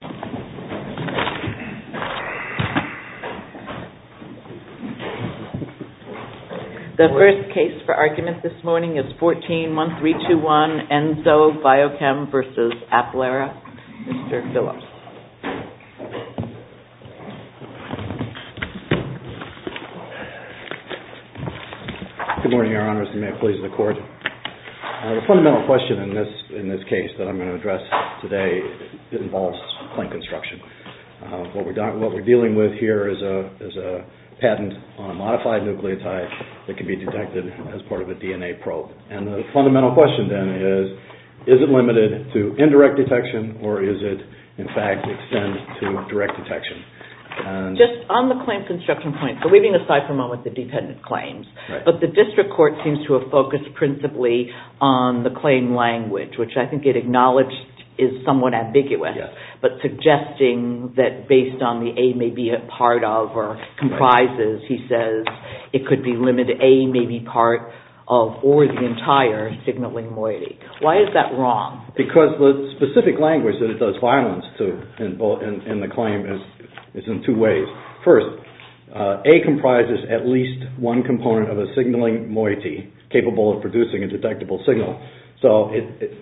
The first case for argument this morning is 14-1321, Enzo Biochem v. Applera. Mr. Phillips. Good morning, Your Honors, and may it please the Court. The fundamental question in this case that I'm going to address today involves claim construction. What we're dealing with here is a patent on a modified nucleotide that can be detected as part of a DNA probe. And the fundamental question then is, is it limited to indirect detection or is it, in fact, extended to direct detection? Just on the claim construction point, so leaving aside for a moment the dependent claims, but the district court seems to have focused principally on the claim language, which I think it acknowledged is somewhat ambiguous, but suggesting that based on the A may be a part of or comprises, he says it could be limited, A may be part of or the entire signaling moiety. Why is that wrong? Because the specific language that it does violence to in the claim is in two ways. First, A comprises at least one component of a signaling moiety capable of producing a detectable signal. So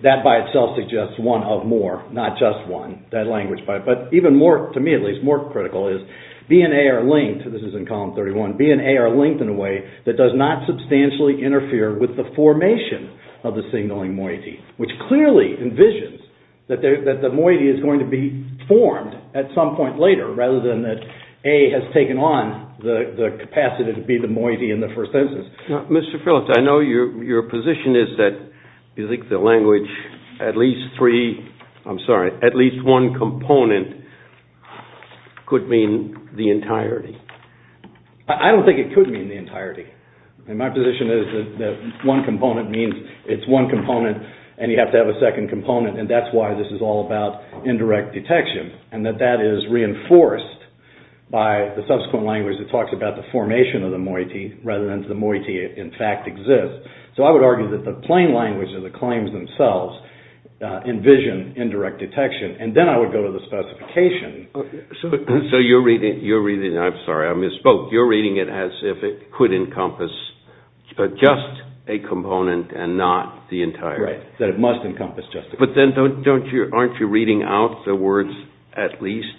that by itself suggests one of more, not just one, that language. But even more, to me at least, more critical is B and A are linked, this is in column 31, B and A are linked in a way that does not substantially interfere with the formation of the signaling moiety, which clearly envisions that the moiety is going to be formed at some point later rather than that A has taken on the capacity to be the moiety in the first instance. Mr. Phillips, I know your position is that you think the language at least three, I'm sorry, at least one component could mean the entirety. I don't think it could mean the entirety. My position is that one component means it's one component and you have to have a second component and that's why this is all about indirect detection and that that is reinforced by the subsequent language that talks about the formation of the moiety rather than the moiety in fact exists. So I would argue that the plain language of the claims themselves envision indirect detection and then I would go to the specification. So you're reading, I'm sorry I misspoke, you're reading it as if it could encompass just a component and not the entire. Right, that it must encompass just a component. But then don't you, aren't you reading out the words at least?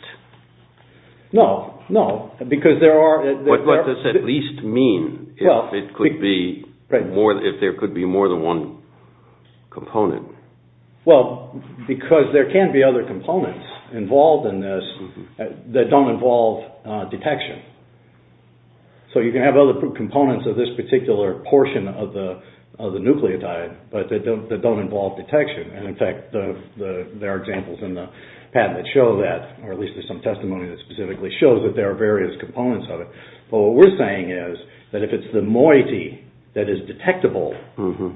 No, no, because there are... What does at least mean if there could be more than one component? Well, because there can be other components involved in this that don't involve detection. So you can have other components of this particular portion of the nucleotide, but they don't involve detection and in fact there are examples in the patent that show that or at least there's some testimony that specifically shows that there are various components of it. But what we're saying is that if it's the moiety that is detectable,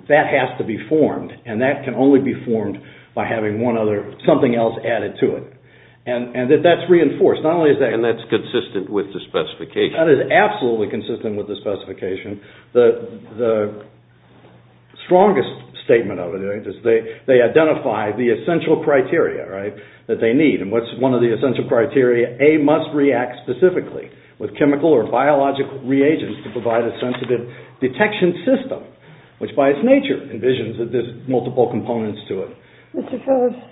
that has to be formed and that can only be formed by having one other, something else added to it and that that's reinforced. Not only is that... And that's consistent with the specification. That is absolutely consistent with the specification. The strongest statement of it is they identify the essential criteria, right, that they need and what's one of the essential criteria? A must react specifically with chemical or biological reagents to provide a sensitive detection system, which by its nature envisions that there's multiple components to it. Mr. Phillips,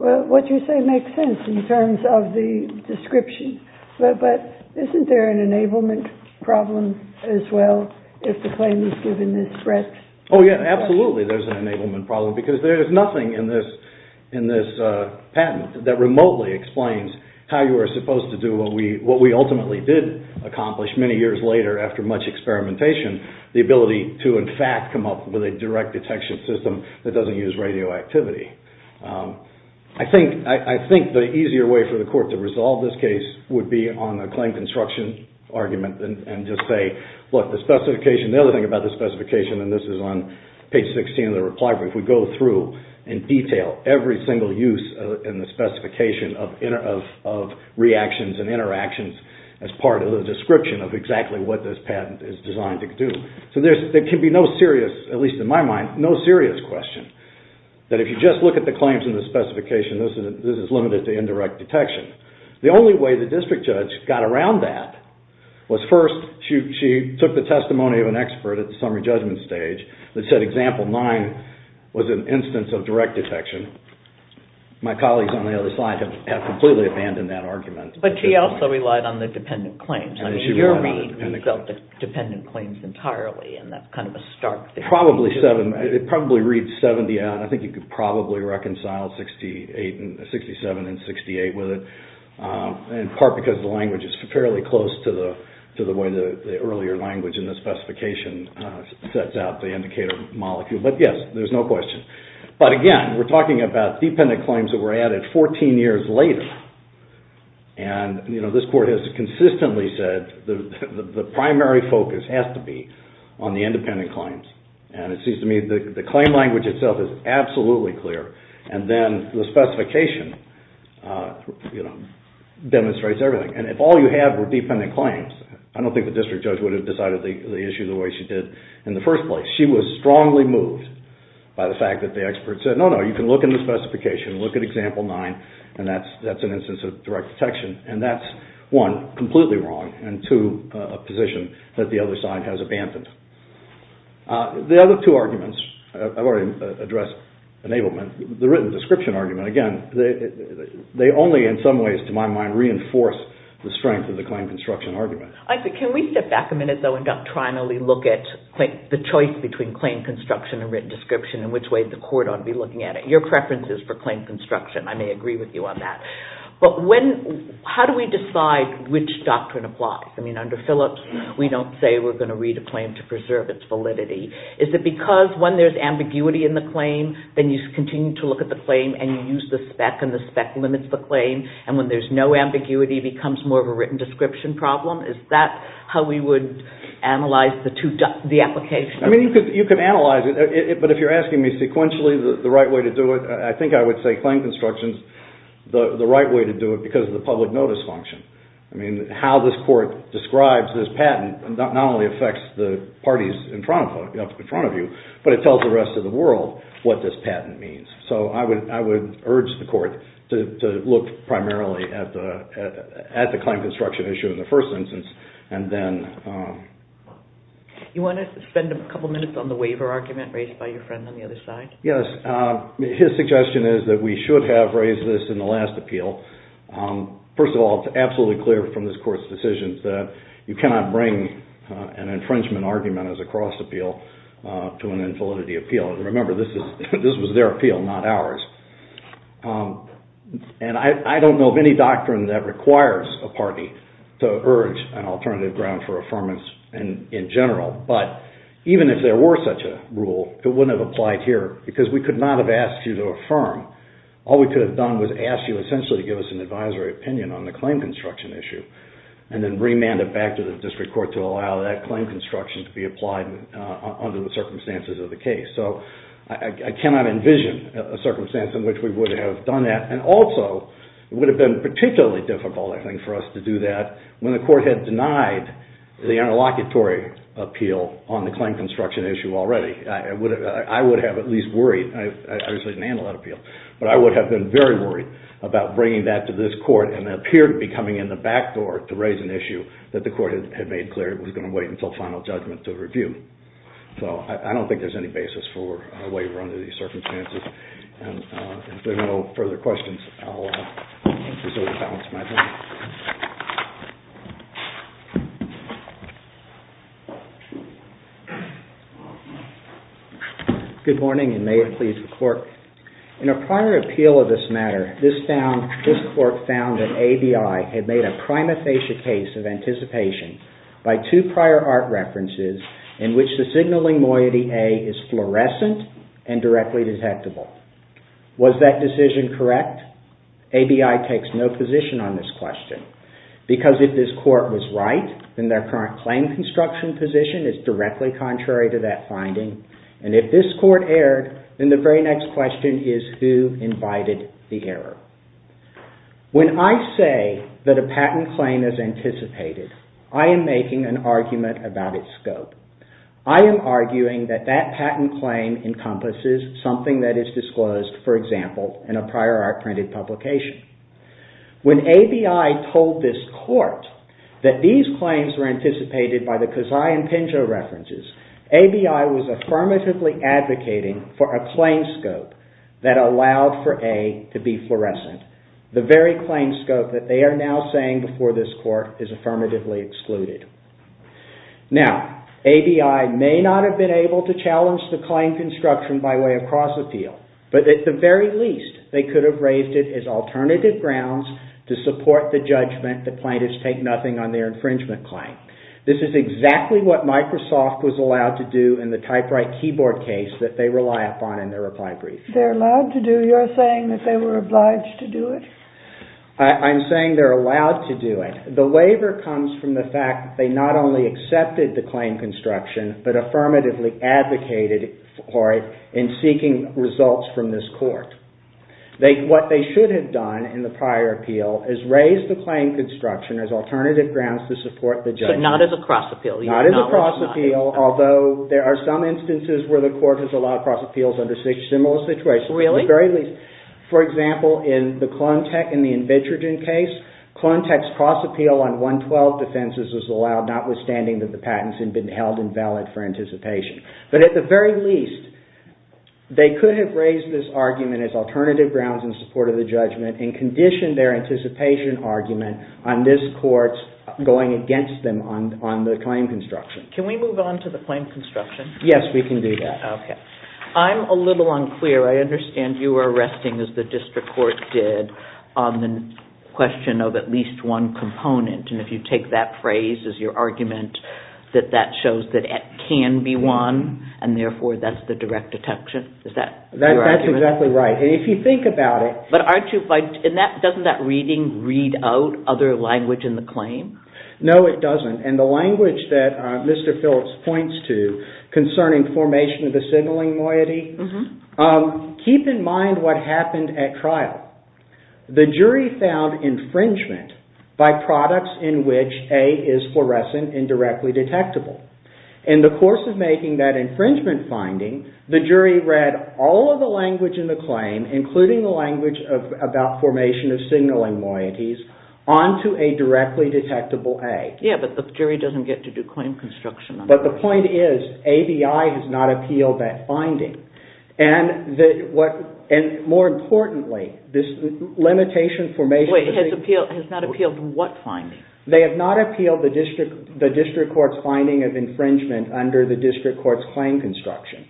well, what you say makes sense in terms of the description, but isn't there an enablement problem as well if the claim is given this breadth? Oh yeah, absolutely there's an enablement problem because there is nothing in this patent that remotely explains how you are supposed to do what we ultimately did accomplish many years later after much experimentation, the ability to in fact come up with a direct detection system that doesn't use radioactivity. I think the easier way for the court to resolve this case would be on a claim construction argument and just say, look, the specification, the other thing about the specification and this is on page 16 of the reply brief, we go through in detail every single use in the specification of reactions and interactions as part of the description of exactly what this patent is designed to do. So there can be no serious, at least in my mind, no serious question that if you just look at the claims in the specification, this is limited to indirect detection. The only way the district judge got around that was first, she took the testimony of an expert at the summary judgment stage that said example nine was an instance of direct detection. My colleagues on the other side have completely abandoned that argument. But she also relied on the dependent claims. I mean, in your read, you felt the dependent claims entirely and that's kind of a stark thing. Probably 70, it probably reads 70 and I think you could probably reconcile 67 and 68 with it, in part because the language is fairly close to the way the earlier language in the specification sets out the indicator molecule. But yes, there's no question. But again, we're talking about dependent claims that were added 14 years later and, you know, this court has consistently said the primary focus has to be on the independent claims. And it seems to me that the claim language itself is absolutely clear. And then the specification, you know, demonstrates everything. And if all you had were dependent claims, I don't think the district judge would have decided the issue the way she did in the first place. She was strongly moved by the fact that the expert said, no, no, you can look in the specification, look at example nine and that's an instance of direct detection. And that's, one, completely wrong and, two, a position that the other side has abandoned. The other two arguments, I've already addressed enablement. The written description argument, again, they only, in some ways, to my mind, reinforce the strength of the claim construction argument. Isaac, can we step back a minute though and doctrinally look at the choice between claim construction and written description and which way the court ought to be looking at it? Your preferences for claim construction, I may agree with you on that. But when, how do we decide which doctrine applies? I mean, under Phillips, we don't say we're going to read a claim to preserve its validity. Is it because when there's ambiguity in the claim, then you continue to look at the claim and you use the spec and the spec limits the claim? And when there's no ambiguity, it becomes more of a written description problem? Is that how we would analyze the two, the application? I mean, you could analyze it, but if you're asking me sequentially the right way to do it, I think I would say claim construction is the right way to do it because of the public notice function. I mean, how this court describes this patent not only affects the parties in front of you, but it tells the rest of the world what this patent means. So I would urge the court to look primarily at the claim construction issue in the first instance and then... You want to spend a couple minutes on the waiver argument raised by your friend on the other side? Yes. His suggestion is that we should have raised this in the last appeal. First of all, it's absolutely clear from this court's decisions that you cannot bring an infringement argument as a cross-appeal to an infallibility appeal. And remember, this was their appeal, not ours. And I don't know of any doctrine that requires a party to urge an alternative ground for because we could not have asked you to affirm. All we could have done was ask you essentially to give us an advisory opinion on the claim construction issue and then remand it back to the district court to allow that claim construction to be applied under the circumstances of the case. So I cannot envision a circumstance in which we would have done that. And also, it would have been particularly difficult, I think, for us to do that when the court had denied the interlocutory appeal on the claim construction issue already. I would have at least worried. I obviously didn't handle that appeal. But I would have been very worried about bringing that to this court and it appeared to be coming in the back door to raise an issue that the court had made clear it was going to wait until final judgment to review. So I don't think there's any basis for a waiver under these circumstances. And if there are no further questions, I'll just over-balance my thing. Good morning and may it please the court. In a prior appeal of this matter, this court found that ABI had made a prima facie case of anticipation by two prior art references in which the signaling moiety A is fluorescent and directly detectable. Was that decision correct? ABI takes no position on this question because if this court was right, then their current claim construction position is directly contrary to that finding. And if this court erred, then the very next question is who invited the error? When I say that a patent claim is anticipated, I am making an argument about its scope. I am arguing that that patent claim encompasses something that is disclosed, for example, in a prior art printed publication. When ABI told this court that these claims were anticipated by the Kazai and Pinto references, ABI was affirmatively advocating for a claim scope that allowed for A to be fluorescent. The very claim scope that they are now saying before this court is affirmatively excluded. Now, ABI may not have been able to challenge the claim construction by way across the field, but at the very least, they could have raised it as alternative grounds to support the judgment that plaintiffs take nothing on their infringement claim. This is exactly what Microsoft was allowed to do in the typewrite keyboard case that they rely upon in their reply brief. They are allowed to do, you are saying that they were obliged to do it? I am saying they are allowed to do it. The waiver comes from the fact that they not only accepted the claim construction, but affirmatively advocated for it in seeking results from this court. What they should have done in the prior appeal is raise the claim construction as alternative grounds to support the judgment. But not as a cross appeal? Not as a cross appeal, although there are some instances where the court has allowed cross appeals under similar situations. Really? At the very least. For example, in the Klontek and the Invitrogen case, Klontek's cross appeal on 112 defenses was allowed, notwithstanding that the patents had been held invalid for anticipation. But at the very least, they could have raised this argument as alternative grounds in support of the judgment and conditioned their anticipation argument on this court's going against them on the claim construction. Can we move on to the claim construction? Yes, we can do that. I am a little unclear. I understand you were arresting, as the district court did, on the question of at least one component. And if you take that phrase as your argument, that that shows that it can be one, and therefore that is the direct detection. Is that your argument? That is exactly right. And if you think about it... But aren't you... Doesn't that reading read out other language in the claim? No, it doesn't. And the language that Mr. Phillips points to concerning formation of the signaling loyalty, keep in mind what happened at trial. The jury found infringement by products in which A is fluorescent and directly detectable. In the course of making that infringement finding, the jury read all of the language in the claim, including the language about formation of signaling loyalties, onto a directly detectable A. Yeah, but the jury doesn't get to do claim construction on that. But the point is, ABI has not appealed that finding. And more importantly, this limitation formation... Wait, has not appealed what finding? They have not appealed the district court's finding of infringement under the district court's claim construction.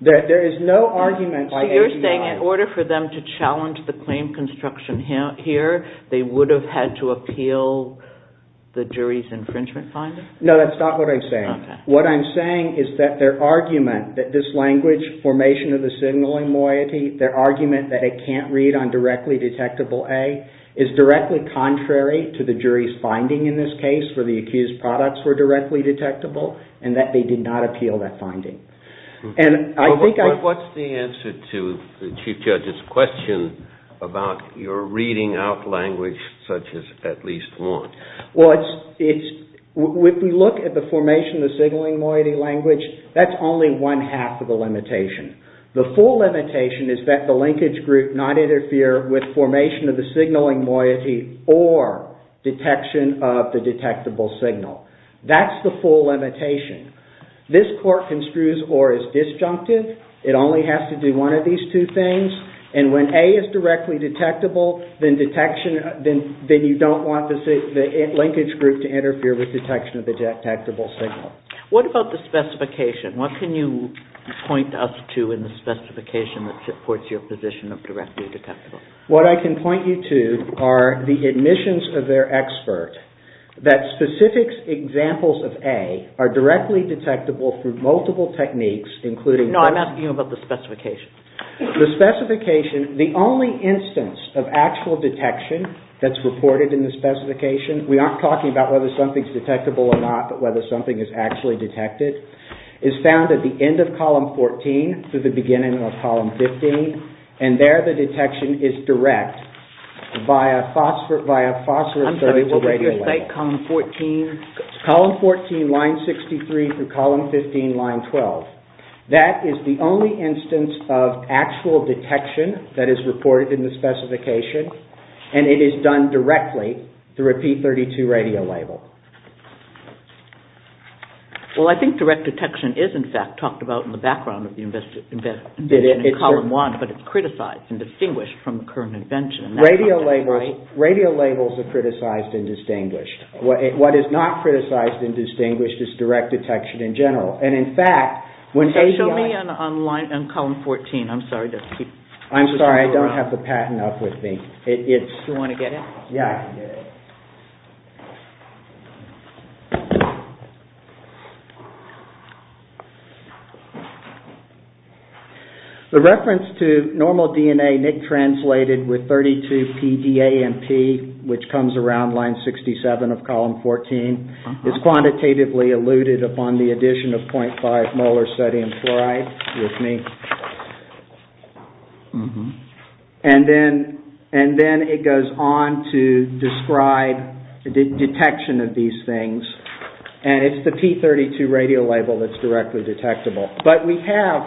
There is no argument by ABI... So you're saying in order for them to challenge the claim construction here, they would have had to appeal the jury's infringement finding? No, that's not what I'm saying. What I'm saying is that their argument that this language, formation of the signaling loyalty, their argument that it can't read on directly detectable A, is directly contrary to the jury's finding in this case, where the accused products were directly detectable, and that they did not appeal that finding. And I think I... But what's the answer to the Chief Judge's question about your reading out language such as at least one? Well, it's... If we look at the formation of the signaling loyalty language, that's only one half of the limitation. The full limitation is that the linkage group not interfere with formation of the signaling loyalty or detection of the detectable signal. That's the full limitation. This court construes or is disjunctive. It only has to do one of these two things. And when A is directly detectable, then you don't want the linkage group to interfere with detection of the detectable signal. What about the specification? What can you point us to in the specification that supports your position of directly detectable? What I can point you to are the admissions of their expert, that specific examples of A are directly detectable through multiple techniques, including... No, I'm asking you about the specification. The specification, the only instance of actual detection that's reported in the specification, we aren't talking about whether something's detectable or not, but whether something is actually detected, is found at the end of column 14 through the beginning of column 15. And there, the detection is direct via phosphor... Via phosphor... I'm sorry. What did you say? Column 14? Column 14, line 63 through column 15, line 12. That is the only instance of actual detection that is reported in the specification, and it is done directly through a P32 radio label. Well, I think direct detection is, in fact, talked about in the background of the invention in column 1, but it's criticized and distinguished from the current invention. Radio labels are criticized and distinguished. What is not criticized and distinguished is direct detection in general. And, in fact, when... Show me on column 14. I'm sorry. I'm sorry. I don't have the patent up with me. Do you want to get it? Yeah, I can get it. The reference to normal DNA NIC translated with 32PDAMP, which comes around line 67 of column 14, is quantitatively eluded upon the addition of 0.5 molar sodium fluoride, with me. And then it goes on to describe detection of these things, and it's the P32 radio label that's directly detectable. But we have,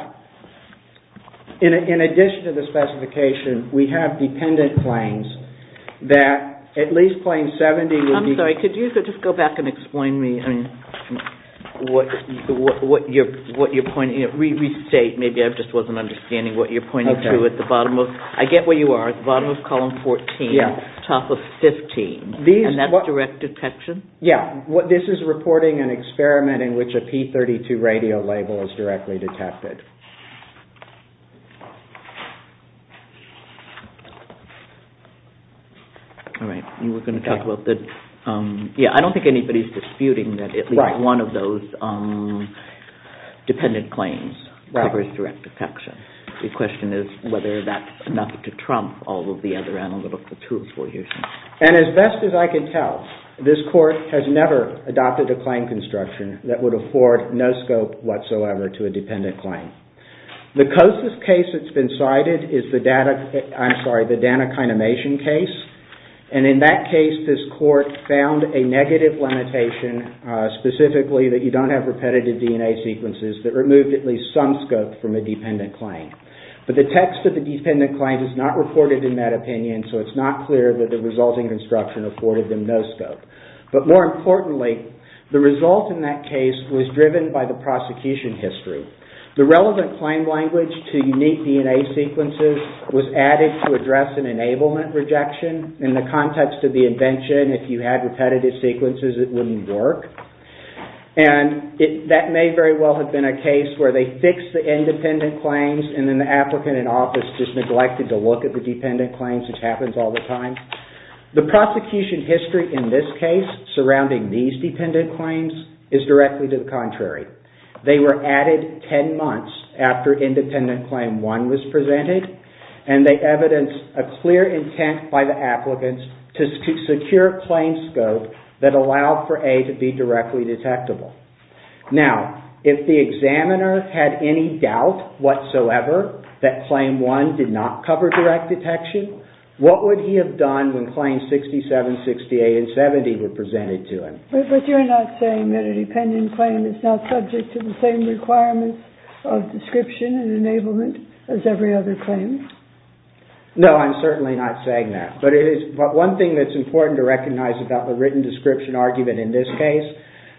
in addition to the specification, we have dependent planes that at least plane 70 would be... I'm sorry. Could you just go back and explain to me what you're pointing... Restate. Maybe I just wasn't understanding what you're pointing to at the bottom of... I get where you are. At the bottom of column 14, top of 15. And that's direct detection? Yeah. This is reporting an experiment in which a P32 radio label is directly detected. All right. And we're going to talk about the... Yeah, I don't think anybody's disputing that at least one of those dependent planes covers direct detection. The question is whether that's enough to trump all of the other analytical tools we're using. And as best as I can tell, this court has never adopted a claim construction that would afford no scope whatsoever to a dependent claim. The closest case that's been cited is the data... I'm sorry, the Danakinimation case. And in that case, this court found a negative limitation specifically that you don't have repetitive DNA sequences that removed at least some scope from a dependent claim. But the text of the dependent claim is not reported in that opinion, so it's not clear that the resulting construction afforded them no scope. But more importantly, the result in that case was driven by the prosecution history. The relevant claim language to unique DNA sequences was added to address an enablement rejection. In the context of the invention, if you had repetitive sequences, it wouldn't work. And that may very well have been a case where they fixed the independent claims and then the applicant in office just neglected to look at the dependent claims, which happens all the time. The prosecution history in this case surrounding these dependent claims is directly to the contrary. They were added 10 months after independent claim 1 was presented, and they evidenced a clear intent by the applicants to secure claim scope that allowed for A to be directly detectable. Now, if the examiner had any doubt whatsoever that claim 1 did not cover direct detection, what would he have done when claims 67, 68, and 70 were presented to him? But you're not saying that a dependent claim is not subject to the same requirements of description and enablement as every other claim? No, I'm certainly not saying that. But one thing that's important to recognize about the written description argument in this case,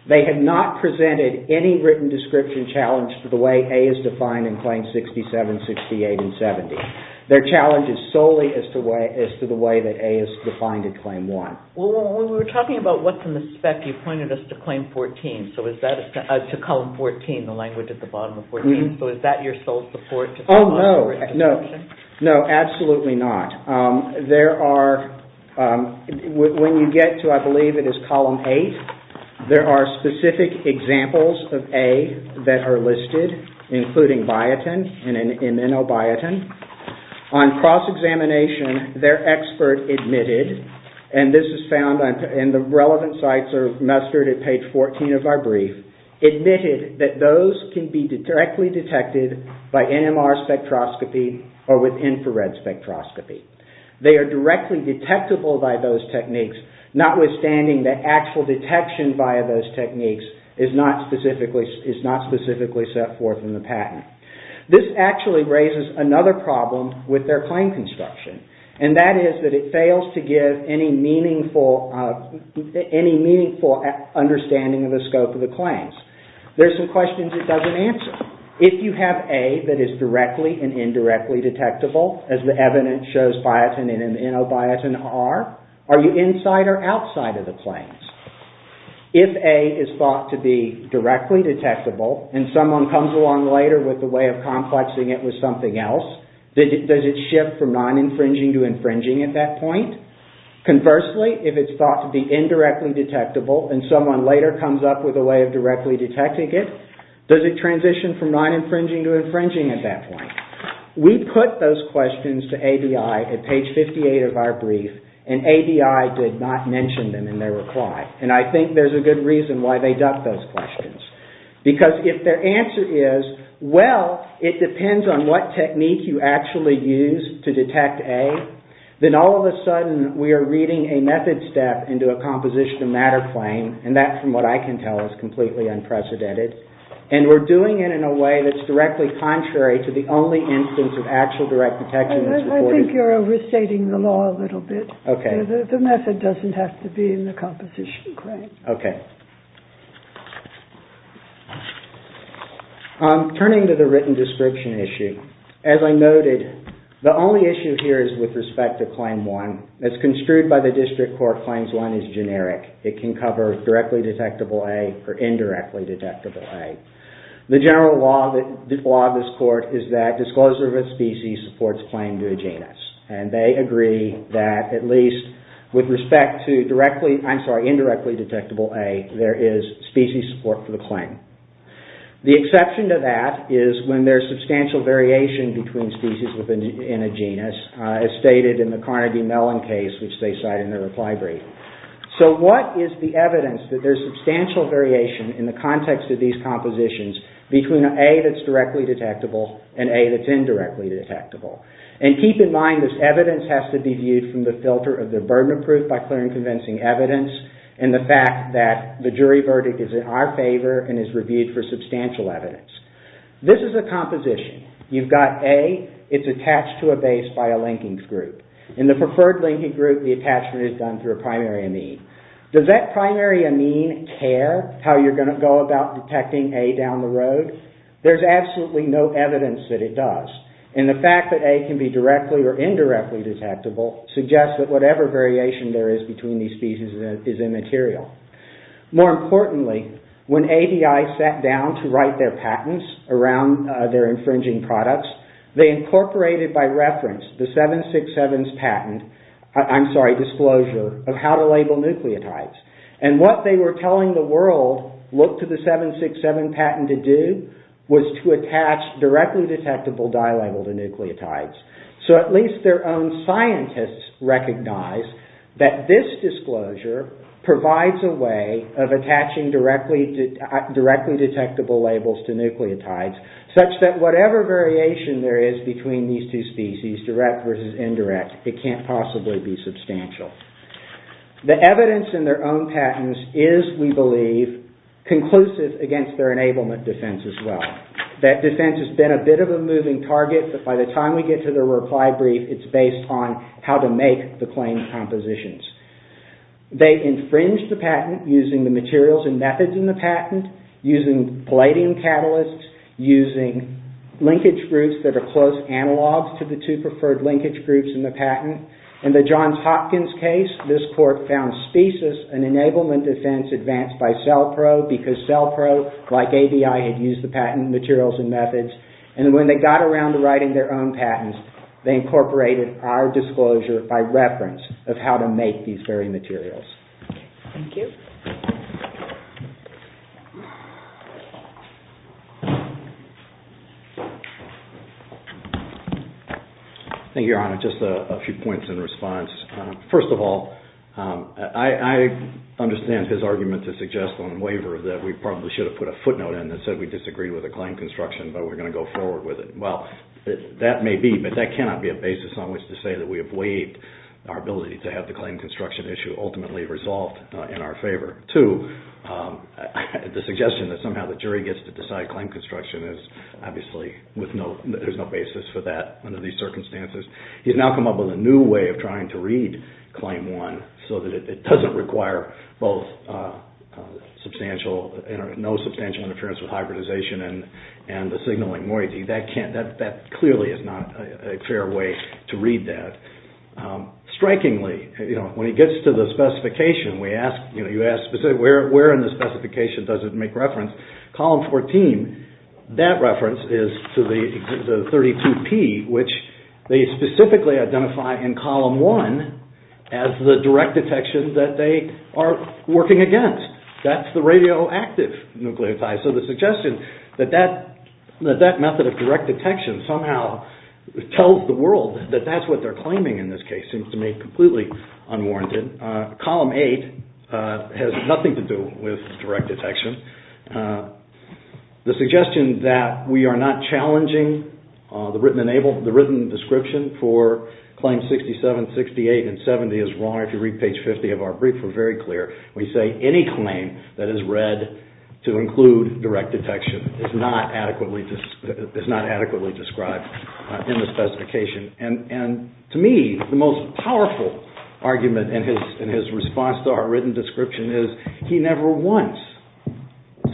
they had not presented any written description challenge to the way A is defined in claims 67, 68, and 70. Their challenge is solely as to the way that A is defined in claim 1. Well, when we were talking about what's in the spec, you pointed us to claim 14, to column 14, the language at the bottom of 14. So is that your sole support? Oh, no. No. No, absolutely not. When you get to, I believe it is column 8, there are specific examples of A that are listed, including biotin and inobiotin. On cross-examination, their expert admitted, and this is found, and the relevant sites are mustered at page 14 of our brief, admitted that those can be directly detected by NMR spectroscopy or with infrared spectroscopy. They are directly detectable by those techniques, notwithstanding that actual detection via those techniques is not specifically set forth in the patent. This actually raises another problem with their claim construction, and that is that it fails to give any meaningful understanding of the scope of the claims. There's some questions it doesn't answer. If you have A that is directly and indirectly detectable, as the evidence shows biotin and inobiotin are, are you inside or outside of the claims? If A is thought to be directly detectable and someone comes along later with a way of complexing it with something else, does it shift from non-infringing to infringing at that point? Conversely, if it's thought to be indirectly detectable and someone later comes up with a way of directly detecting it, does it transition from non-infringing to infringing at that point? We put those questions to ABI at page 58 of our brief, and ABI did not mention them in their reply, and I think there's a good reason why they ducked those questions. Because if their answer is, well, it depends on what technique you actually use to detect A, then all of a sudden we are reading a method step into a composition of matter claim, and that, from what I can tell, is completely unprecedented. And we're doing it in a way that's directly contrary to the only instance of actual direct detection that's reported. I think you're overstating the law a little bit. Okay. The method doesn't have to be in the composition claim. Okay. Turning to the written description issue, as I noted, the only issue here is with respect to Claim 1. As construed by the district court, Claims 1 is generic. It can cover directly detectable A or indirectly detectable A. The general law of this court is that disclosure of a species supports claim to a genus, and they agree that at least with respect to indirectly detectable A, there is species support for the claim. The exception to that is when there's substantial variation between species within a genus, as stated in the Carnegie-Mellon case, which they cite in their reply brief. So what is the evidence that there's substantial variation in the context of these compositions between A that's directly detectable and A that's indirectly detectable? And keep in mind, this evidence has to be viewed from the filter of the burden of proof by clear and convincing evidence, and the fact that the jury verdict is in our favor and is reviewed for substantial evidence. This is a composition. You've got A. It's attached to a base by a linking group. In the preferred linking group, the attachment is done through a primary amine. Does that primary amine care how you're going to go about detecting A down the road? There's absolutely no evidence that it does. And the fact that A can be directly or indirectly detectable suggests that whatever variation there is between these species is immaterial. More importantly, when ADI sat down to write their patents around their infringing products, they incorporated by reference the 767's patent, I'm sorry, disclosure, of how to label nucleotides. And what they were telling the world, look to the 767 patent to do, was to attach directly detectable dye label to nucleotides. So at least their own scientists recognize that this disclosure provides a way of attaching directly detectable labels to nucleotides such that whatever variation there is between these two species, direct versus indirect, it can't possibly be substantial. The evidence in their own patents is, we believe, conclusive against their enablement defense as well. That defense has been a bit of a moving target, but by the time we get to the reply brief, it's based on how to make the claim compositions. They infringed the patent using the materials and methods in the patent, using palladium catalysts, using linkage groups that are close analogs to the two preferred linkage groups in the patent. In the Johns Hopkins case, this court found species and enablement defense advanced by using a cell probe like ABI had used the patent materials and methods. And when they got around to writing their own patents, they incorporated our disclosure by reference of how to make these very materials. Thank you. Thank you, Your Honor. Just a few points in response. First of all, I understand his argument to suggest on waiver that we probably should have put a footnote in that said we disagreed with the claim construction, but we're going to go forward with it. Well, that may be, but that cannot be a basis on which to say that we have waived our ability to have the claim construction issue ultimately resolved in our favor. Two, the suggestion that somehow the jury gets to decide claim construction is obviously there's no basis for that under these circumstances. He's now come up with a new way of trying to read claim one so that it doesn't require both substantial, no substantial interference with hybridization and the signaling moiety. That clearly is not a fair way to read that. Strikingly, when he gets to the specification, you ask specifically where in the specification does it make reference. Column 14, that reference is to the 32P, which they specifically identify in column 1 as the direct detection that they are working against. That's the radioactive nucleotide. So the suggestion that that method of direct detection somehow tells the world that that's what they're claiming in this case seems to me completely unwarranted. Column 8 has nothing to do with direct detection. The suggestion that we are not challenging the written description for claims 67, 68, and 70 is wrong. If you read page 50 of our brief, we're very clear. We say any claim that is read to include direct detection is not adequately described in the specification. To me, the most powerful argument in his response to our written description is he never once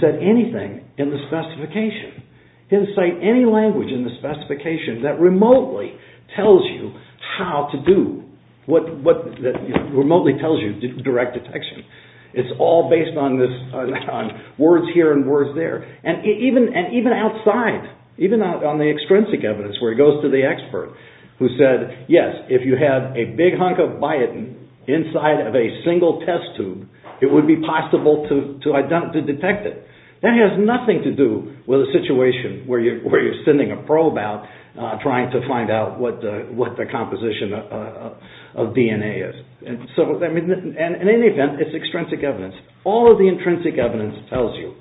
said anything in the specification. He didn't cite any language in the specification that remotely tells you how to do, what remotely tells you direct detection. It's all based on words here and words there. Even outside, even on the extrinsic evidence, where he goes to the expert who said, yes, if you had a big hunk of biotin inside of a single test tube, it would be possible to detect it. That has nothing to do with a situation where you're sending a probe out trying to find out what the composition of DNA is. In any event, it's extrinsic evidence. All of the intrinsic evidence tells you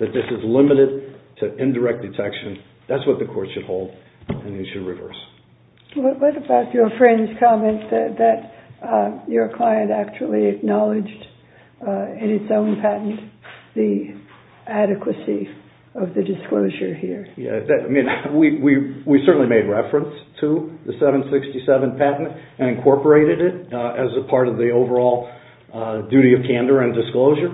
that this is limited to indirect detection. That's what the court should hold and we should reverse. What about your friend's comment that your client actually acknowledged in its own patent the adequacy of the disclosure here? We certainly made reference to the 767 patent and incorporated it as a part of the overall duty of candor and disclosure.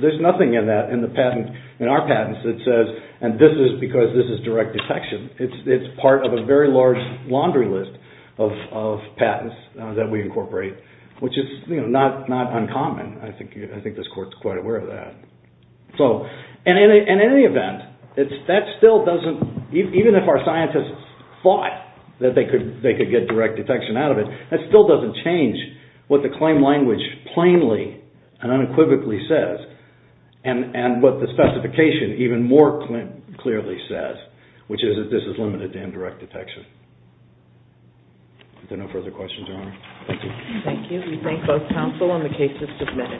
There's nothing in our patents that says, and this is because this is direct detection. It's part of a very large laundry list of patents that we incorporate, which is not uncommon. I think this court is quite aware of that. In any event, that still doesn't, even if our scientists thought that they could get direct detection out of it, that still doesn't change what the claim language plainly and unequivocally says and what the specification even more clearly says, which is that this is limited to indirect detection. Are there no further questions, Your Honor? Thank you. Thank you. We thank both counsel and the cases submitted.